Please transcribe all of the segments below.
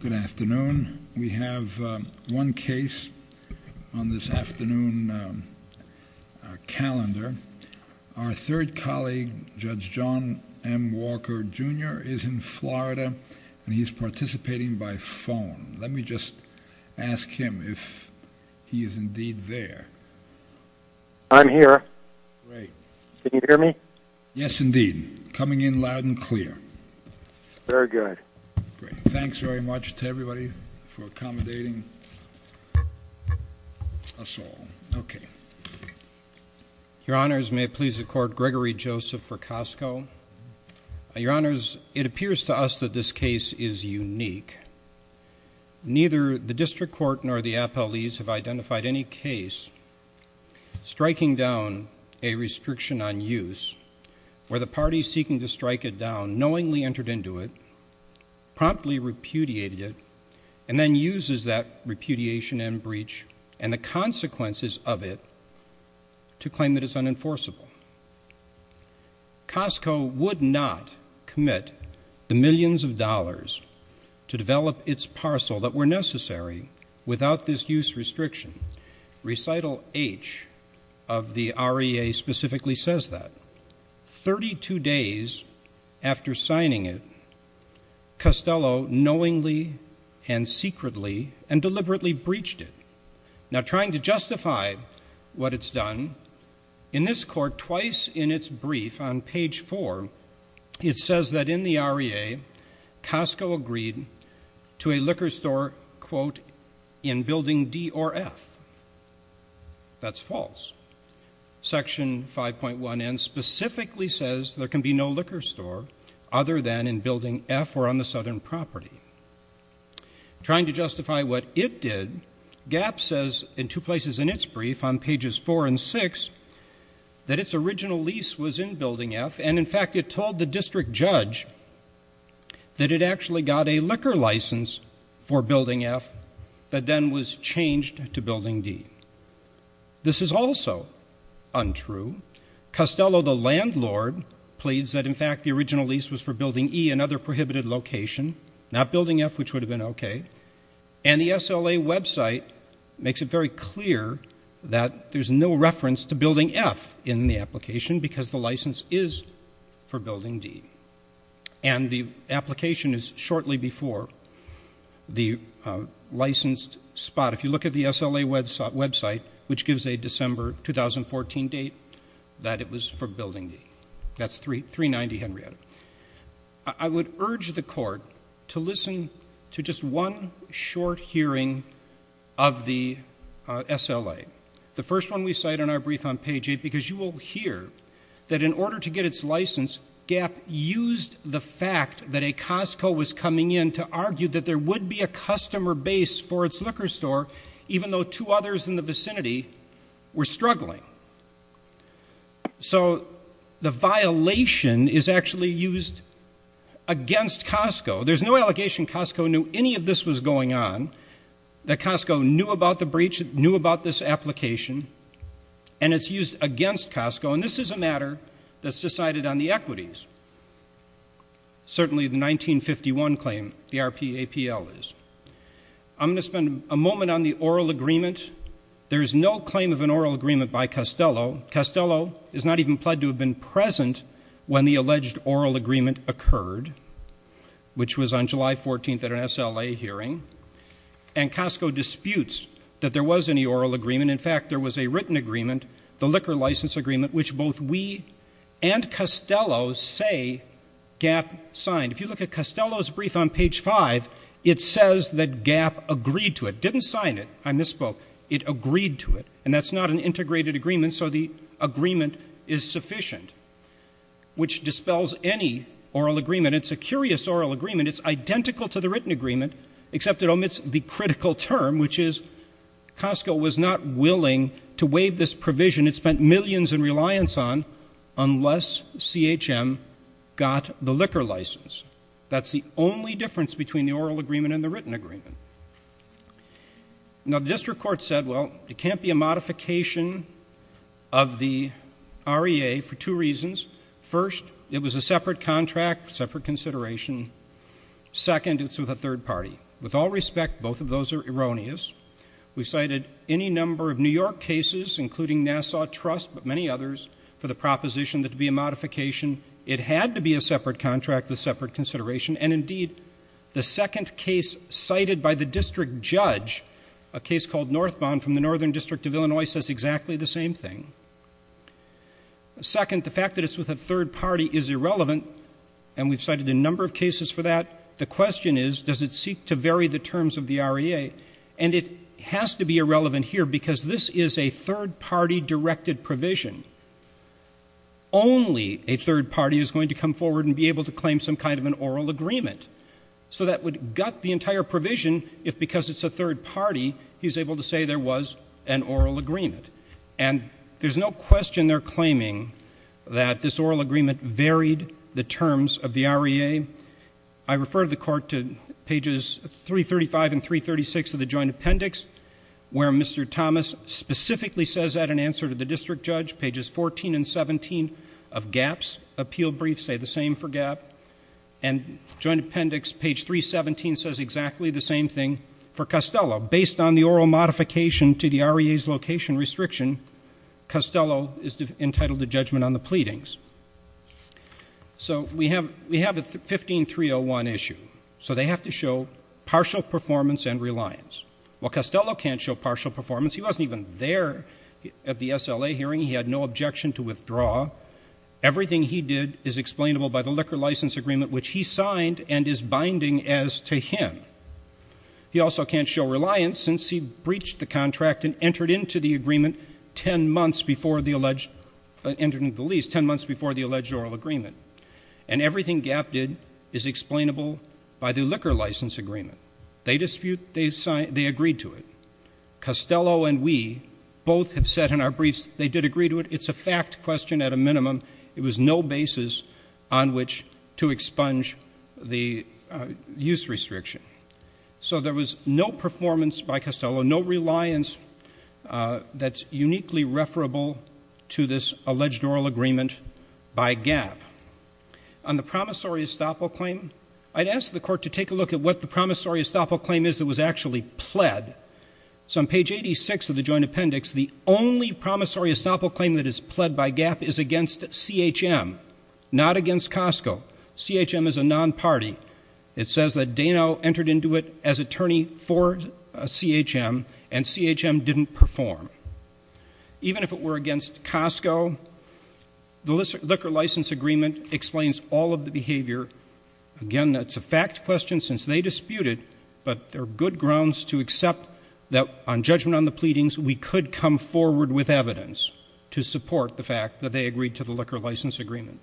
Good afternoon. We have one case on this afternoon calendar. Our third colleague, Judge John M. Walker, Jr. is in Florida and he's participating by phone. Let me just ask him if he is indeed there. I'm here. Great. Can you hear me? Yes, indeed. Coming in loud and clear. Very good. Great. Thanks very much to everybody for accommodating us all. Okay. Your honors, may it please the court, Gregory Joseph for Costco. Your honors, it appears to us that this case is unique. Neither the district court nor the appellees have identified any case striking down a restriction on use where the party seeking to strike it down knowingly entered into it, promptly repudiated and then uses that repudiation and breach and the consequences of it to claim that it's unenforceable. Costco would not commit the millions of dollars to develop its parcel that were necessary without this use restriction. Recital H of the REA specifically says that. 32 days after signing it, Costello knowingly and secretly and deliberately breached it. Now trying to justify what it's done, in this court twice in its brief on page four, it says that in the REA, Costco agreed to a liquor store, quote, in building D or F. That's false. Section 5.1N specifically says there can be no liquor store other than in building F or on the southern property. Trying to justify what it did, GAP says in two places in its brief on pages four and six that its original lease was in building F and in fact it told the district judge that it actually got a liquor license for building F that then was changed to building D. This is also untrue. Costello the landlord pleads that in fact the original lease was for building E, another prohibited location, not building F which would have been okay. And the SLA website makes it very clear that there's no reference to building F in the application because the license is for building D. And the application is shortly before the licensed spot. If you look at the SLA website which gives a December 2014 date that it was for building D. That's 390, Henrietta. I would urge the court to listen to just one short hearing of the SLA. The first one we cite in our brief on page eight because you will hear that in order to get its license, GAP used the fact that a Costco was coming in to argue that there would be a customer base for its liquor store even though two others in the vicinity were struggling. So the violation is actually used against Costco. There's no allegation Costco knew any of this was going on, that Costco knew about the breach, knew about this application and it's used against Costco and this is a matter that's decided on the equities. Certainly the 1951 claim, the RPAPL is. I'm going to spend a moment on the oral agreement. There's no claim of an oral agreement by Costello. Costello is not even pled to have been present when the alleged oral agreement occurred which was on July 14th at an SLA hearing. And Costco disputes that there was any oral agreement. In fact, there was a written agreement, the liquor license agreement which both we and SLA, GAP signed. If you look at Costello's brief on page five, it says that GAP agreed to it. Didn't sign it. I misspoke. It agreed to it. And that's not an integrated agreement so the agreement is sufficient which dispels any oral agreement. It's a curious oral agreement. It's identical to the written agreement except it omits the critical term which is Costco was not willing to waive this provision it spent millions in reliance on unless CHM got the liquor license. That's the only difference between the oral agreement and the written agreement. Now the district court said, well, it can't be a modification of the REA for two reasons. First it was a separate contract, separate consideration. Second it's with a third party. With all respect, both of those are erroneous. We cited any number of New York cases including Nassau Trust but many others for the proposition that it would be a modification. It had to be a separate contract with separate consideration and indeed the second case cited by the district judge, a case called Northbound from the Northern District of Illinois says exactly the same thing. Second, the fact that it's with a third party is irrelevant and we've cited a number of cases for that. The question is does it seek to vary the terms of the REA and it has to be irrelevant here because this is a third party directed provision. Only a third party is going to come forward and be able to claim some kind of an oral agreement. So that would gut the entire provision if because it's a third party he's able to say there was an oral agreement and there's no question they're claiming that this oral agreement varied the terms of the REA. I refer the court to pages 335 and 336 of the joint appendix where Mr. Thomas specifically says that in answer to the district judge, pages 14 and 17 of GAP's appeal brief say the same for GAP and joint appendix page 317 says exactly the same thing for Costello. Based on the oral modification to the REA's location restriction, Costello is entitled to judgment on the pleadings. So we have a 15-301 issue so they have to show partial performance and reliance. While Costello can't show partial performance, he wasn't even there at the SLA hearing, he had no objection to withdraw. Everything he did is explainable by the liquor license agreement which he signed and is binding as to him. He also can't show reliance since he breached the contract and entered into the agreement 10 months before the alleged oral agreement. And everything GAP did is explainable by the liquor license agreement. They dispute, they agreed to it. Costello and we both have said in our briefs they did agree to it, it's a fact question at a minimum, it was no basis on which to expunge the use restriction. So there was no performance by Costello, no reliance that's uniquely referable to this alleged oral agreement by GAP. On the promissory estoppel claim, I'd ask the court to take a look at what the promissory estoppel claim is that was actually pled. So on page 86 of the joint appendix, the only promissory estoppel claim that is pled by GAP is against CHM, not against Costco. CHM is a non-party. It says that Dano entered into it as attorney for CHM and CHM didn't perform. Even if it were against Costco, the liquor license agreement explains all of the behavior. Again, that's a fact question since they disputed, but there are good grounds to accept that on judgment on the pleadings, we could come forward with evidence to support the fact that they agreed to the liquor license agreement.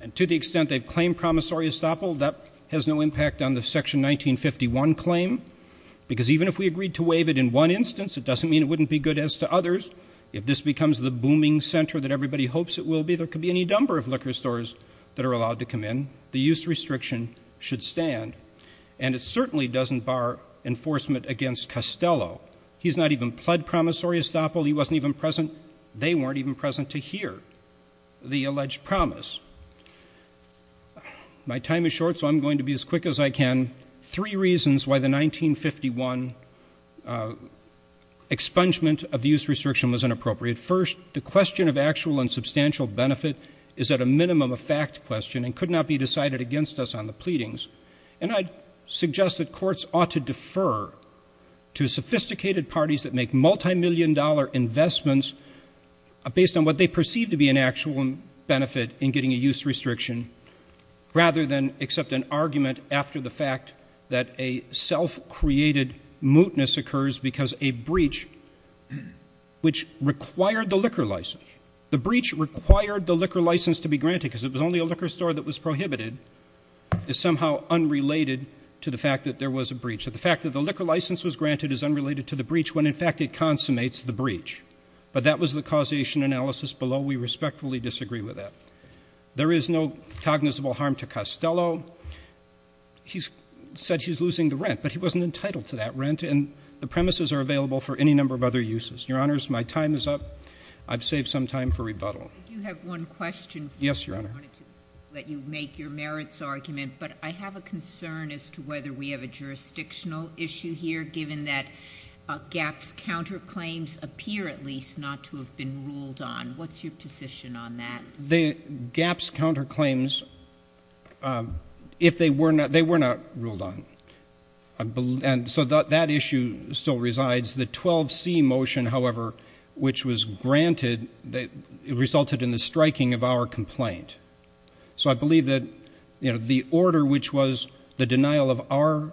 And to the extent they've claimed promissory estoppel, that has no impact on the section 1951 claim, because even if we agreed to waive it in one instance, it doesn't mean it wouldn't be good as to others. If this becomes the booming center that everybody hopes it will be, there could be any number of liquor stores that are allowed to come in. The use restriction should stand, and it certainly doesn't bar enforcement against Costello. He's not even pled promissory estoppel. He wasn't even present. They weren't even present to hear. The alleged promise. My time is short, so I'm going to be as quick as I can. Three reasons why the 1951 expungement of the use restriction was inappropriate. First, the question of actual and substantial benefit is at a minimum a fact question and could not be decided against us on the pleadings. And I'd suggest that courts ought to defer to sophisticated parties that make multimillion dollar investments based on what they perceive to be an actual benefit in getting a use restriction rather than accept an argument after the fact that a self-created mootness occurs because a breach which required the liquor license, the breach required the liquor license to be granted because it was only a liquor store that was prohibited, is somehow unrelated to the fact that there was a breach. So the fact that the liquor license was granted is unrelated to the breach when in fact it consummates the breach. But that was the causation analysis below. We respectfully disagree with that. There is no cognizable harm to Costello. He's said he's losing the rent, but he wasn't entitled to that rent, and the premises are available for any number of other uses. Your Honors, my time is up. I've saved some time for rebuttal. I do have one question for you. Yes, Your Honor. I wanted to let you make your merits argument, but I have a concern as to whether we have a jurisdictional issue here given that GAPS counterclaims appear at least not to have been ruled on. What's your position on that? The GAPS counterclaims, if they were not, they were not ruled on. And so that issue still resides. The 12C motion, however, which was granted, it resulted in the striking of our complaint. So I believe that, you know, the order which was the denial of our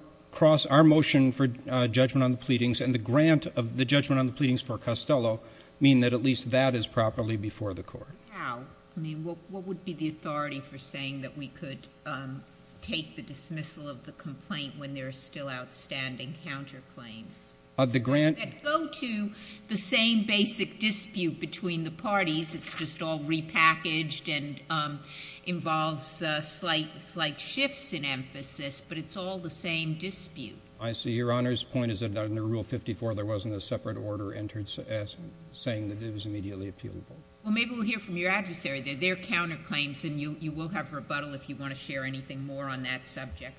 motion for judgment on the pleadings and the grant of the judgment on the pleadings for Costello mean that at least that is properly before the Court. How? I mean, what would be the authority for saying that we could take the dismissal of the complaint when there are still outstanding counterclaims that go to the same basic dispute between the parties? It's just all repackaged and involves slight shifts in emphasis, but it's all the same dispute. I see. Your Honor's point is that under Rule 54, there wasn't a separate order entered saying that it was immediately appealable. Well, maybe we'll hear from your adversary. They're counterclaims, and you will have rebuttal if you want to share anything more on that subject.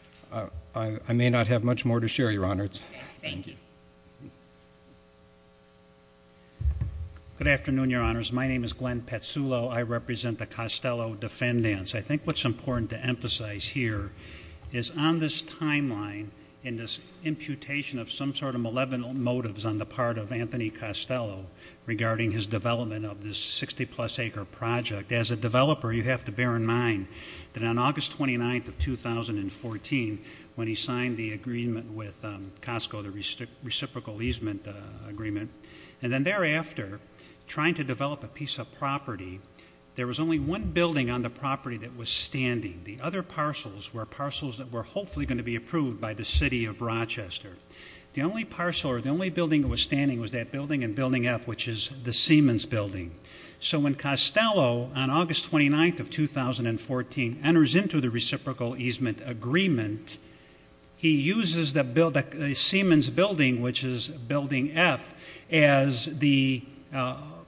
I may not have much more to share, Your Honor. Thank you. Good afternoon, Your Honors. My name is Glenn Patsulo. I represent the Costello Defendants. I think what's important to emphasize here is on this timeline and this imputation of some sort of malevolent motives on the part of Anthony Costello regarding his development of this 60-plus acre project, as a developer, you have to bear in mind that on August 29th of 2014, when he signed the agreement with Costco, the reciprocal easement agreement, and then thereafter, trying to develop a piece of property, there was only one building on the property that was standing. The other parcels were parcels that were hopefully going to be approved by the City of Rochester. The only parcel or the only building that was standing was that building in Building F, which is the Siemens building. So when Costello, on August 29th of 2014, enters into the reciprocal easement agreement, he uses the Siemens building, which is Building F, as the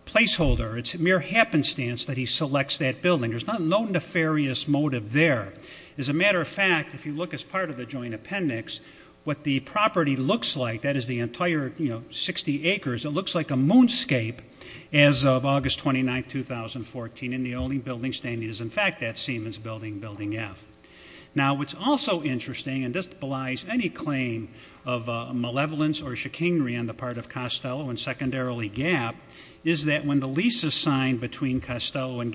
placeholder. It's mere happenstance that he selects that building. There's no nefarious motive there. As a matter of fact, if you look as part of the joint appendix, what the property looks like, that is the entire 60 acres, it looks like a moonscape as of August 29th, 2014, and the only building standing is in fact that Siemens building, Building F. Now what's also interesting, and this belies any claim of malevolence or chicanery on the part of Costello and secondarily Gap, is that when the leases signed between Costello and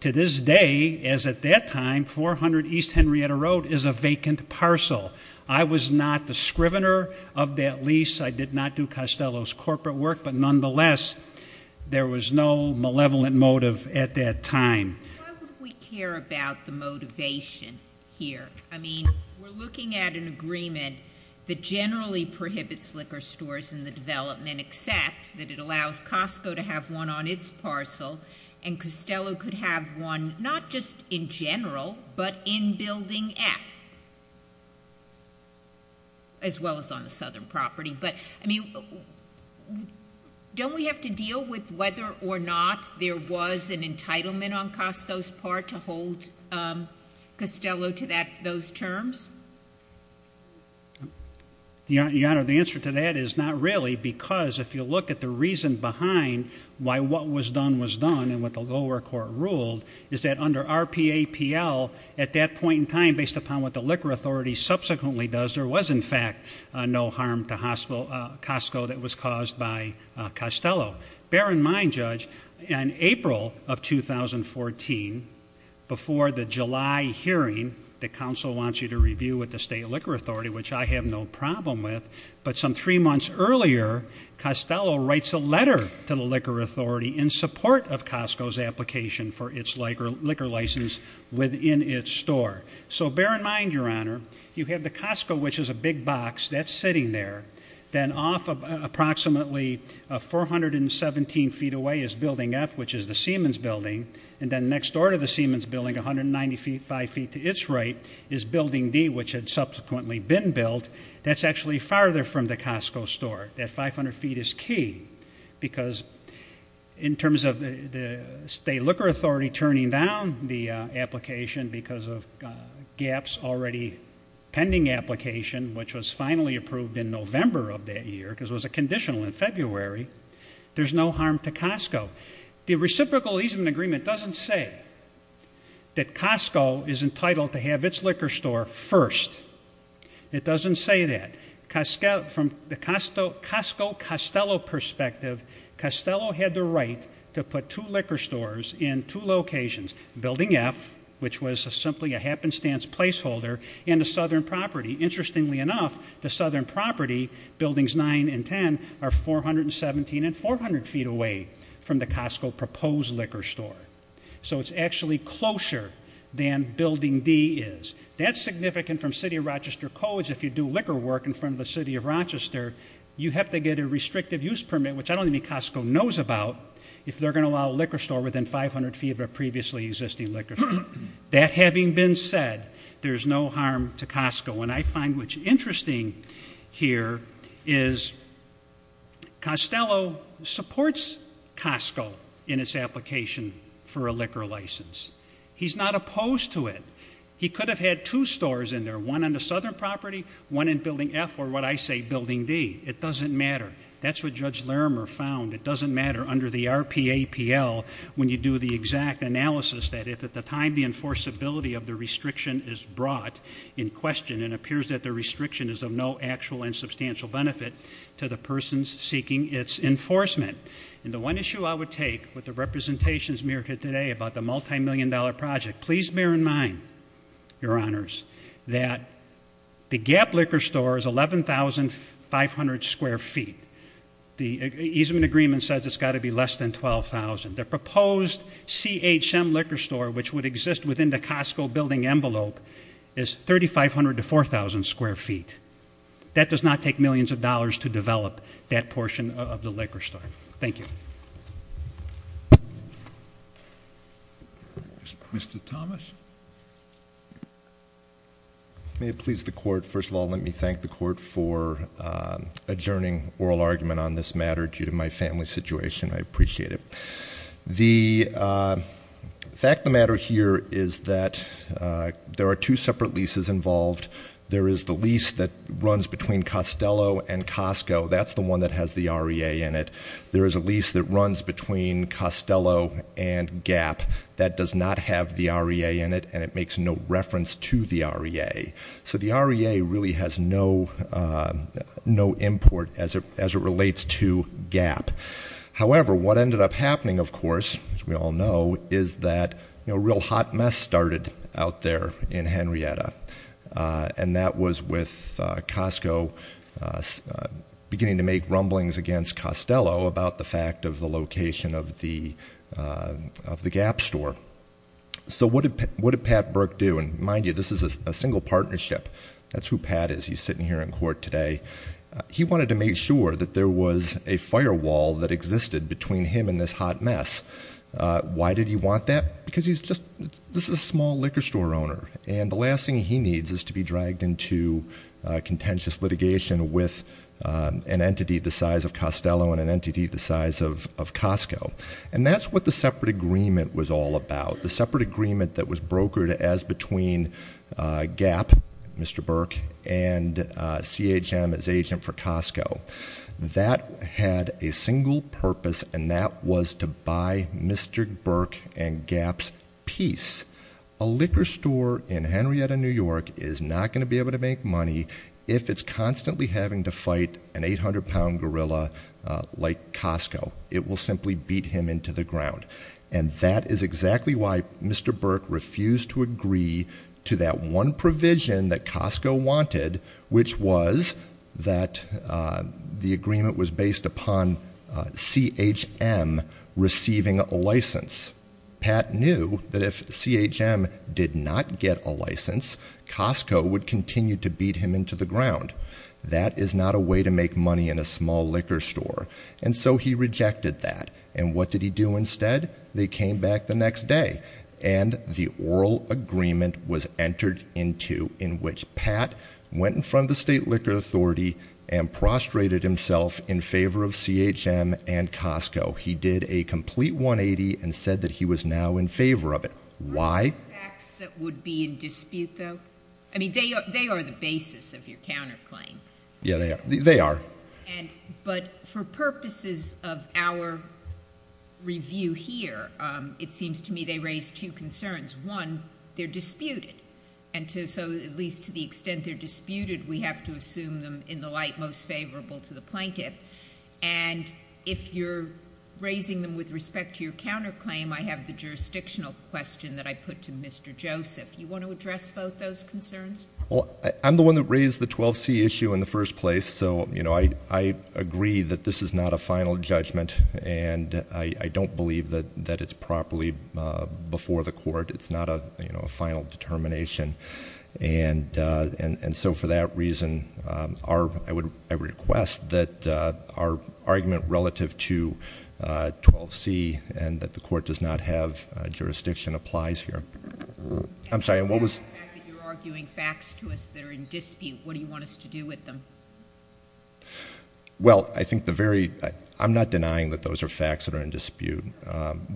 To this day, as at that time, 400 East Henrietta Road is a vacant parcel. I was not the scrivener of that lease. I did not do Costello's corporate work, but nonetheless, there was no malevolent motive at that time. Why would we care about the motivation here? I mean, we're looking at an agreement that generally prohibits liquor stores in the development except that it allows Costco to have one on its parcel, and Costello could have one not just in general, but in Building F, as well as on the southern property. But I mean, don't we have to deal with whether or not there was an entitlement on Costco's part to hold Costello to those terms? Your Honor, the answer to that is not really, because if you look at the reason behind why what was done was done and what the lower court ruled, is that under RPAPL, at that point in time, based upon what the Liquor Authority subsequently does, there was in fact no harm to Costco that was caused by Costello. Bear in mind, Judge, in April of 2014, before the July hearing that counsel wants you to review with the State Liquor Authority, which I have no problem with, but some three months earlier, Costello writes a letter to the Liquor Authority in support of Costco's application for its liquor license within its store. So bear in mind, Your Honor, you have the Costco, which is a big box that's sitting in there. Then off of approximately 417 feet away is Building F, which is the Siemens building, and then next door to the Siemens building, 195 feet to its right, is Building D, which had subsequently been built. That's actually farther from the Costco store. That 500 feet is key, because in terms of the State Liquor Authority turning down the application, which was finally approved in November of that year, because it was a conditional in February, there's no harm to Costco. The reciprocal easement agreement doesn't say that Costco is entitled to have its liquor store first. It doesn't say that. From the Costco-Costello perspective, Costello had the right to put two liquor stores in two locations, Building F, which was simply a happenstance placeholder, and the Southern property. Interestingly enough, the Southern property, Buildings 9 and 10, are 417 and 400 feet away from the Costco proposed liquor store. So it's actually closer than Building D is. That's significant from City of Rochester codes. If you do liquor work in front of the City of Rochester, you have to get a restrictive use permit, which I don't think Costco knows about, if they're going to allow a liquor store within 500 feet of a previously existing liquor store. That having been said, there's no harm to Costco. And I find what's interesting here is Costello supports Costco in its application for a liquor license. He's not opposed to it. He could have had two stores in there, one on the Southern property, one in Building F, or what I say, Building D. It doesn't matter. That's what Judge Larimer found. It doesn't matter under the RPAPL when you do the exact analysis that if at the time the enforceability of the restriction is brought in question, it appears that the restriction is of no actual and substantial benefit to the persons seeking its enforcement. And the one issue I would take, with the representations mirrored here today about the multimillion dollar project, please bear in mind, Your Honors, that the Gap Liquor Store is 11,500 square feet. The easement agreement says it's got to be less than 12,000. The proposed CHM liquor store, which would exist within the Costco building envelope, is 3,500 to 4,000 square feet. That does not take millions of dollars to develop that portion of the liquor store. Thank you. Mr. Thomas? May it please the court, first of all, let me thank the court for adjourning oral argument on this matter due to my family situation. I appreciate it. The fact of the matter here is that there are two separate leases involved. There is the lease that runs between Costello and Costco. That's the one that has the REA in it. There is a lease that runs between Costello and Gap that does not have the REA in it, and it makes no reference to the REA. So the REA really has no import as it relates to Gap. However, what ended up happening, of course, as we all know, is that a real hot mess started out there in Henrietta. And that was with Costco beginning to make rumblings against Costello about the fact of the location of the Gap store. So what did Pat Burke do? And mind you, this is a single partnership. That's who Pat is. He's sitting here in court today. He wanted to make sure that there was a firewall that existed between him and this hot mess. Why did he want that? Because he's just, this is a small liquor store owner. And the last thing he needs is to be dragged into a contentious litigation with an entity the size of Costello and an entity the size of Costco. And that's what the separate agreement was all about. The separate agreement that was brokered as between Gap, Mr. Burke, and CHM as agent for Costco. That had a single purpose, and that was to buy Mr. Burke and Gap's peace. A liquor store in Henrietta, New York is not going to be able to make money if it's constantly having to fight an 800 pound gorilla like Costco. It will simply beat him into the ground. And that is exactly why Mr. Burke refused to agree to that one provision that Costco wanted, which was that the agreement was based upon CHM receiving a license. Pat knew that if CHM did not get a license, Costco would continue to beat him into the ground. That is not a way to make money in a small liquor store, and so he rejected that. And what did he do instead? They came back the next day, and the oral agreement was entered into, in which Pat went in front of the State Liquor Authority and prostrated himself in favor of CHM and Costco. He did a complete 180 and said that he was now in favor of it. Why? The facts that would be in dispute though, I mean, they are the basis of your counterclaim. Yeah, they are. But for purposes of our review here, it seems to me they raise two concerns. One, they're disputed, and so at least to the extent they're disputed, we have to assume them in the light most favorable to the plaintiff. And if you're raising them with respect to your counterclaim, I have the jurisdictional question that I put to Mr. Joseph. You want to address both those concerns? Well, I'm the one that raised the 12C issue in the first place, so I agree that this is not a final judgment. And I don't believe that it's properly before the court. It's not a final determination. And so for that reason, I request that our argument relative to 12C and that the court does not have jurisdiction applies here. I'm sorry, what was- You're arguing facts to us that are in dispute. What do you want us to do with them? Well, I think the very, I'm not denying that those are facts that are in dispute.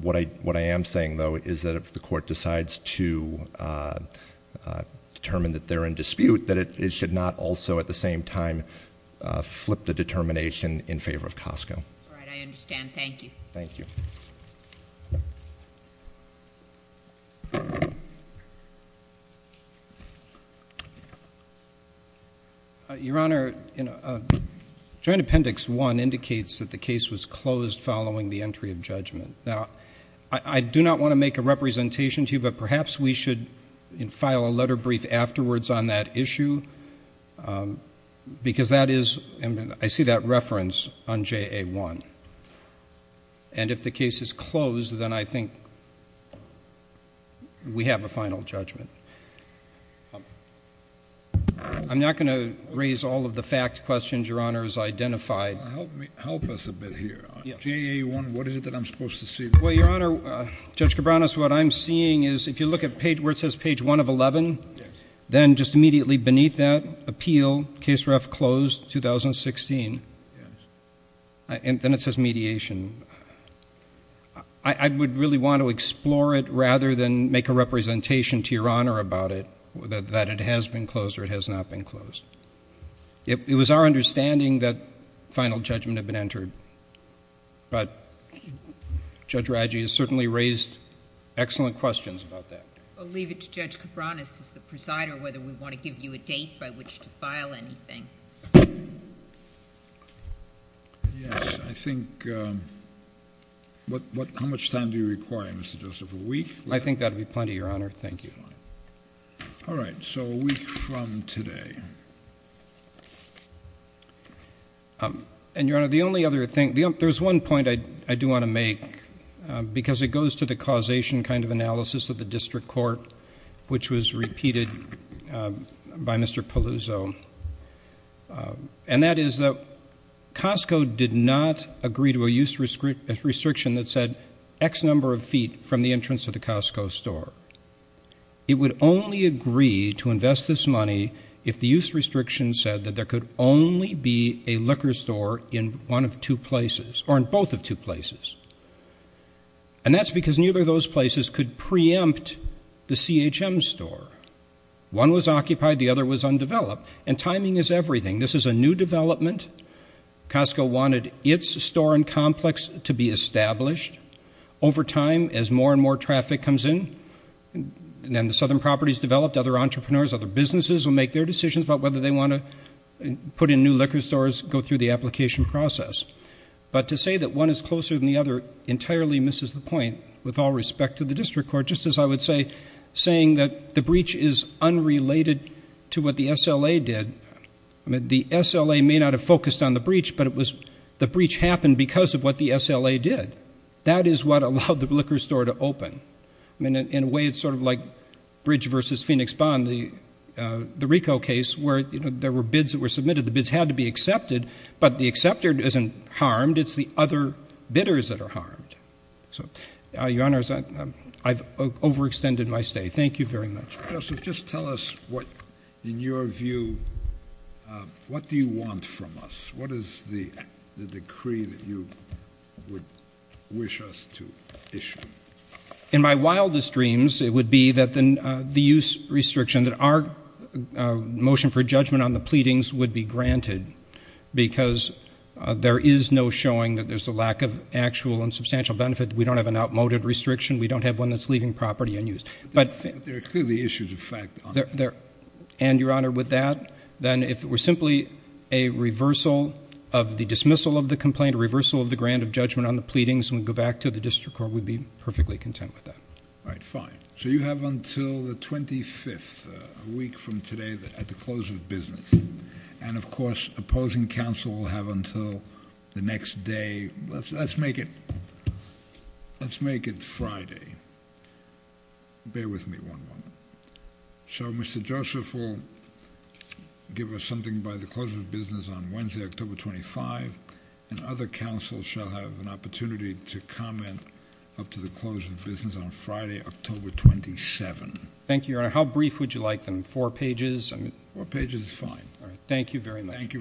What I am saying though is that if the court decides to determine that they're in dispute, that it should not also at the same time flip the determination in favor of Costco. All right, I understand. Thank you. Thank you. Your Honor, joint appendix one indicates that the case was closed following the entry of judgment. Now, I do not want to make a representation to you, but perhaps we should file a letter brief afterwards on that issue. Because that is, I see that reference on JA1. And if the case is closed, then I think we have a final judgment. I'm not going to raise all of the fact questions Your Honor has identified. Help us a bit here. JA1, what is it that I'm supposed to see? Well, Your Honor, Judge Cabranes, what I'm seeing is, if you look at where it says page one of 11, then just immediately beneath that, appeal, case ref closed, 2016. Yes. And then it says mediation. I would really want to explore it rather than make a representation to Your Honor about it, that it has been closed or it has not been closed. It was our understanding that final judgment had been entered. But Judge Raggi has certainly raised excellent questions about that. I'll leave it to Judge Cabranes as the presider whether we want to give you a date by which to file anything. Yes, I think, what, how much time do you require, Mr. Joseph, a week? I think that would be plenty, Your Honor. Thank you. All right, so a week from today. And Your Honor, the only other thing, there's one point I do want to make, because it goes to the causation kind of analysis of the district court, which was repeated by Mr. Paluzzo. And that is that Costco did not agree to a use restriction that said X number of feet from the entrance of the Costco store. It would only agree to invest this money if the use restriction said that there could only be a liquor store in one of two places, or in both of two places. And that's because neither of those places could preempt the CHM store. One was occupied, the other was undeveloped. And timing is everything. This is a new development. Costco wanted its store and complex to be established. Over time, as more and more traffic comes in, and then the southern properties developed, other entrepreneurs, other businesses will make their decisions about whether they want to put in new liquor stores, go through the application process. But to say that one is closer than the other entirely misses the point with all respect to the district court. Just as I would say, saying that the breach is unrelated to what the SLA did. I mean, the SLA may not have focused on the breach, but the breach happened because of what the SLA did. That is what allowed the liquor store to open. I mean, in a way, it's sort of like Bridge versus Phoenix Bond, the RICO case, where there were bids that were submitted. The bids had to be accepted, but the acceptor isn't harmed, it's the other bidders that are harmed. So, your honors, I've overextended my stay. Thank you very much. Joseph, just tell us what, in your view, what do you want from us? What is the decree that you would wish us to issue? In my wildest dreams, it would be that the use restriction, that our motion for judgment on the pleadings would be granted. Because there is no showing that there's a lack of actual and substantial benefit. We don't have an outmoded restriction. We don't have one that's leaving property unused. But- But there are clearly issues of fact on that. And, your honor, with that, then if it were simply a reversal of the dismissal of the complaint, a reversal of the grant of judgment on the pleadings, and we go back to the district court, we'd be perfectly content with that. All right, fine. So you have until the 25th, a week from today, at the close of business. And, of course, opposing counsel will have until the next day, let's make it, let's make it Friday. Bear with me one moment. So Mr. Joseph will give us something by the close of business on Wednesday, October 25th. And other counsel shall have an opportunity to comment up to the close of business on Friday, October 27th. Thank you, your honor. How brief would you like them, four pages? Four pages is fine. All right, thank you very much. Thank you very much.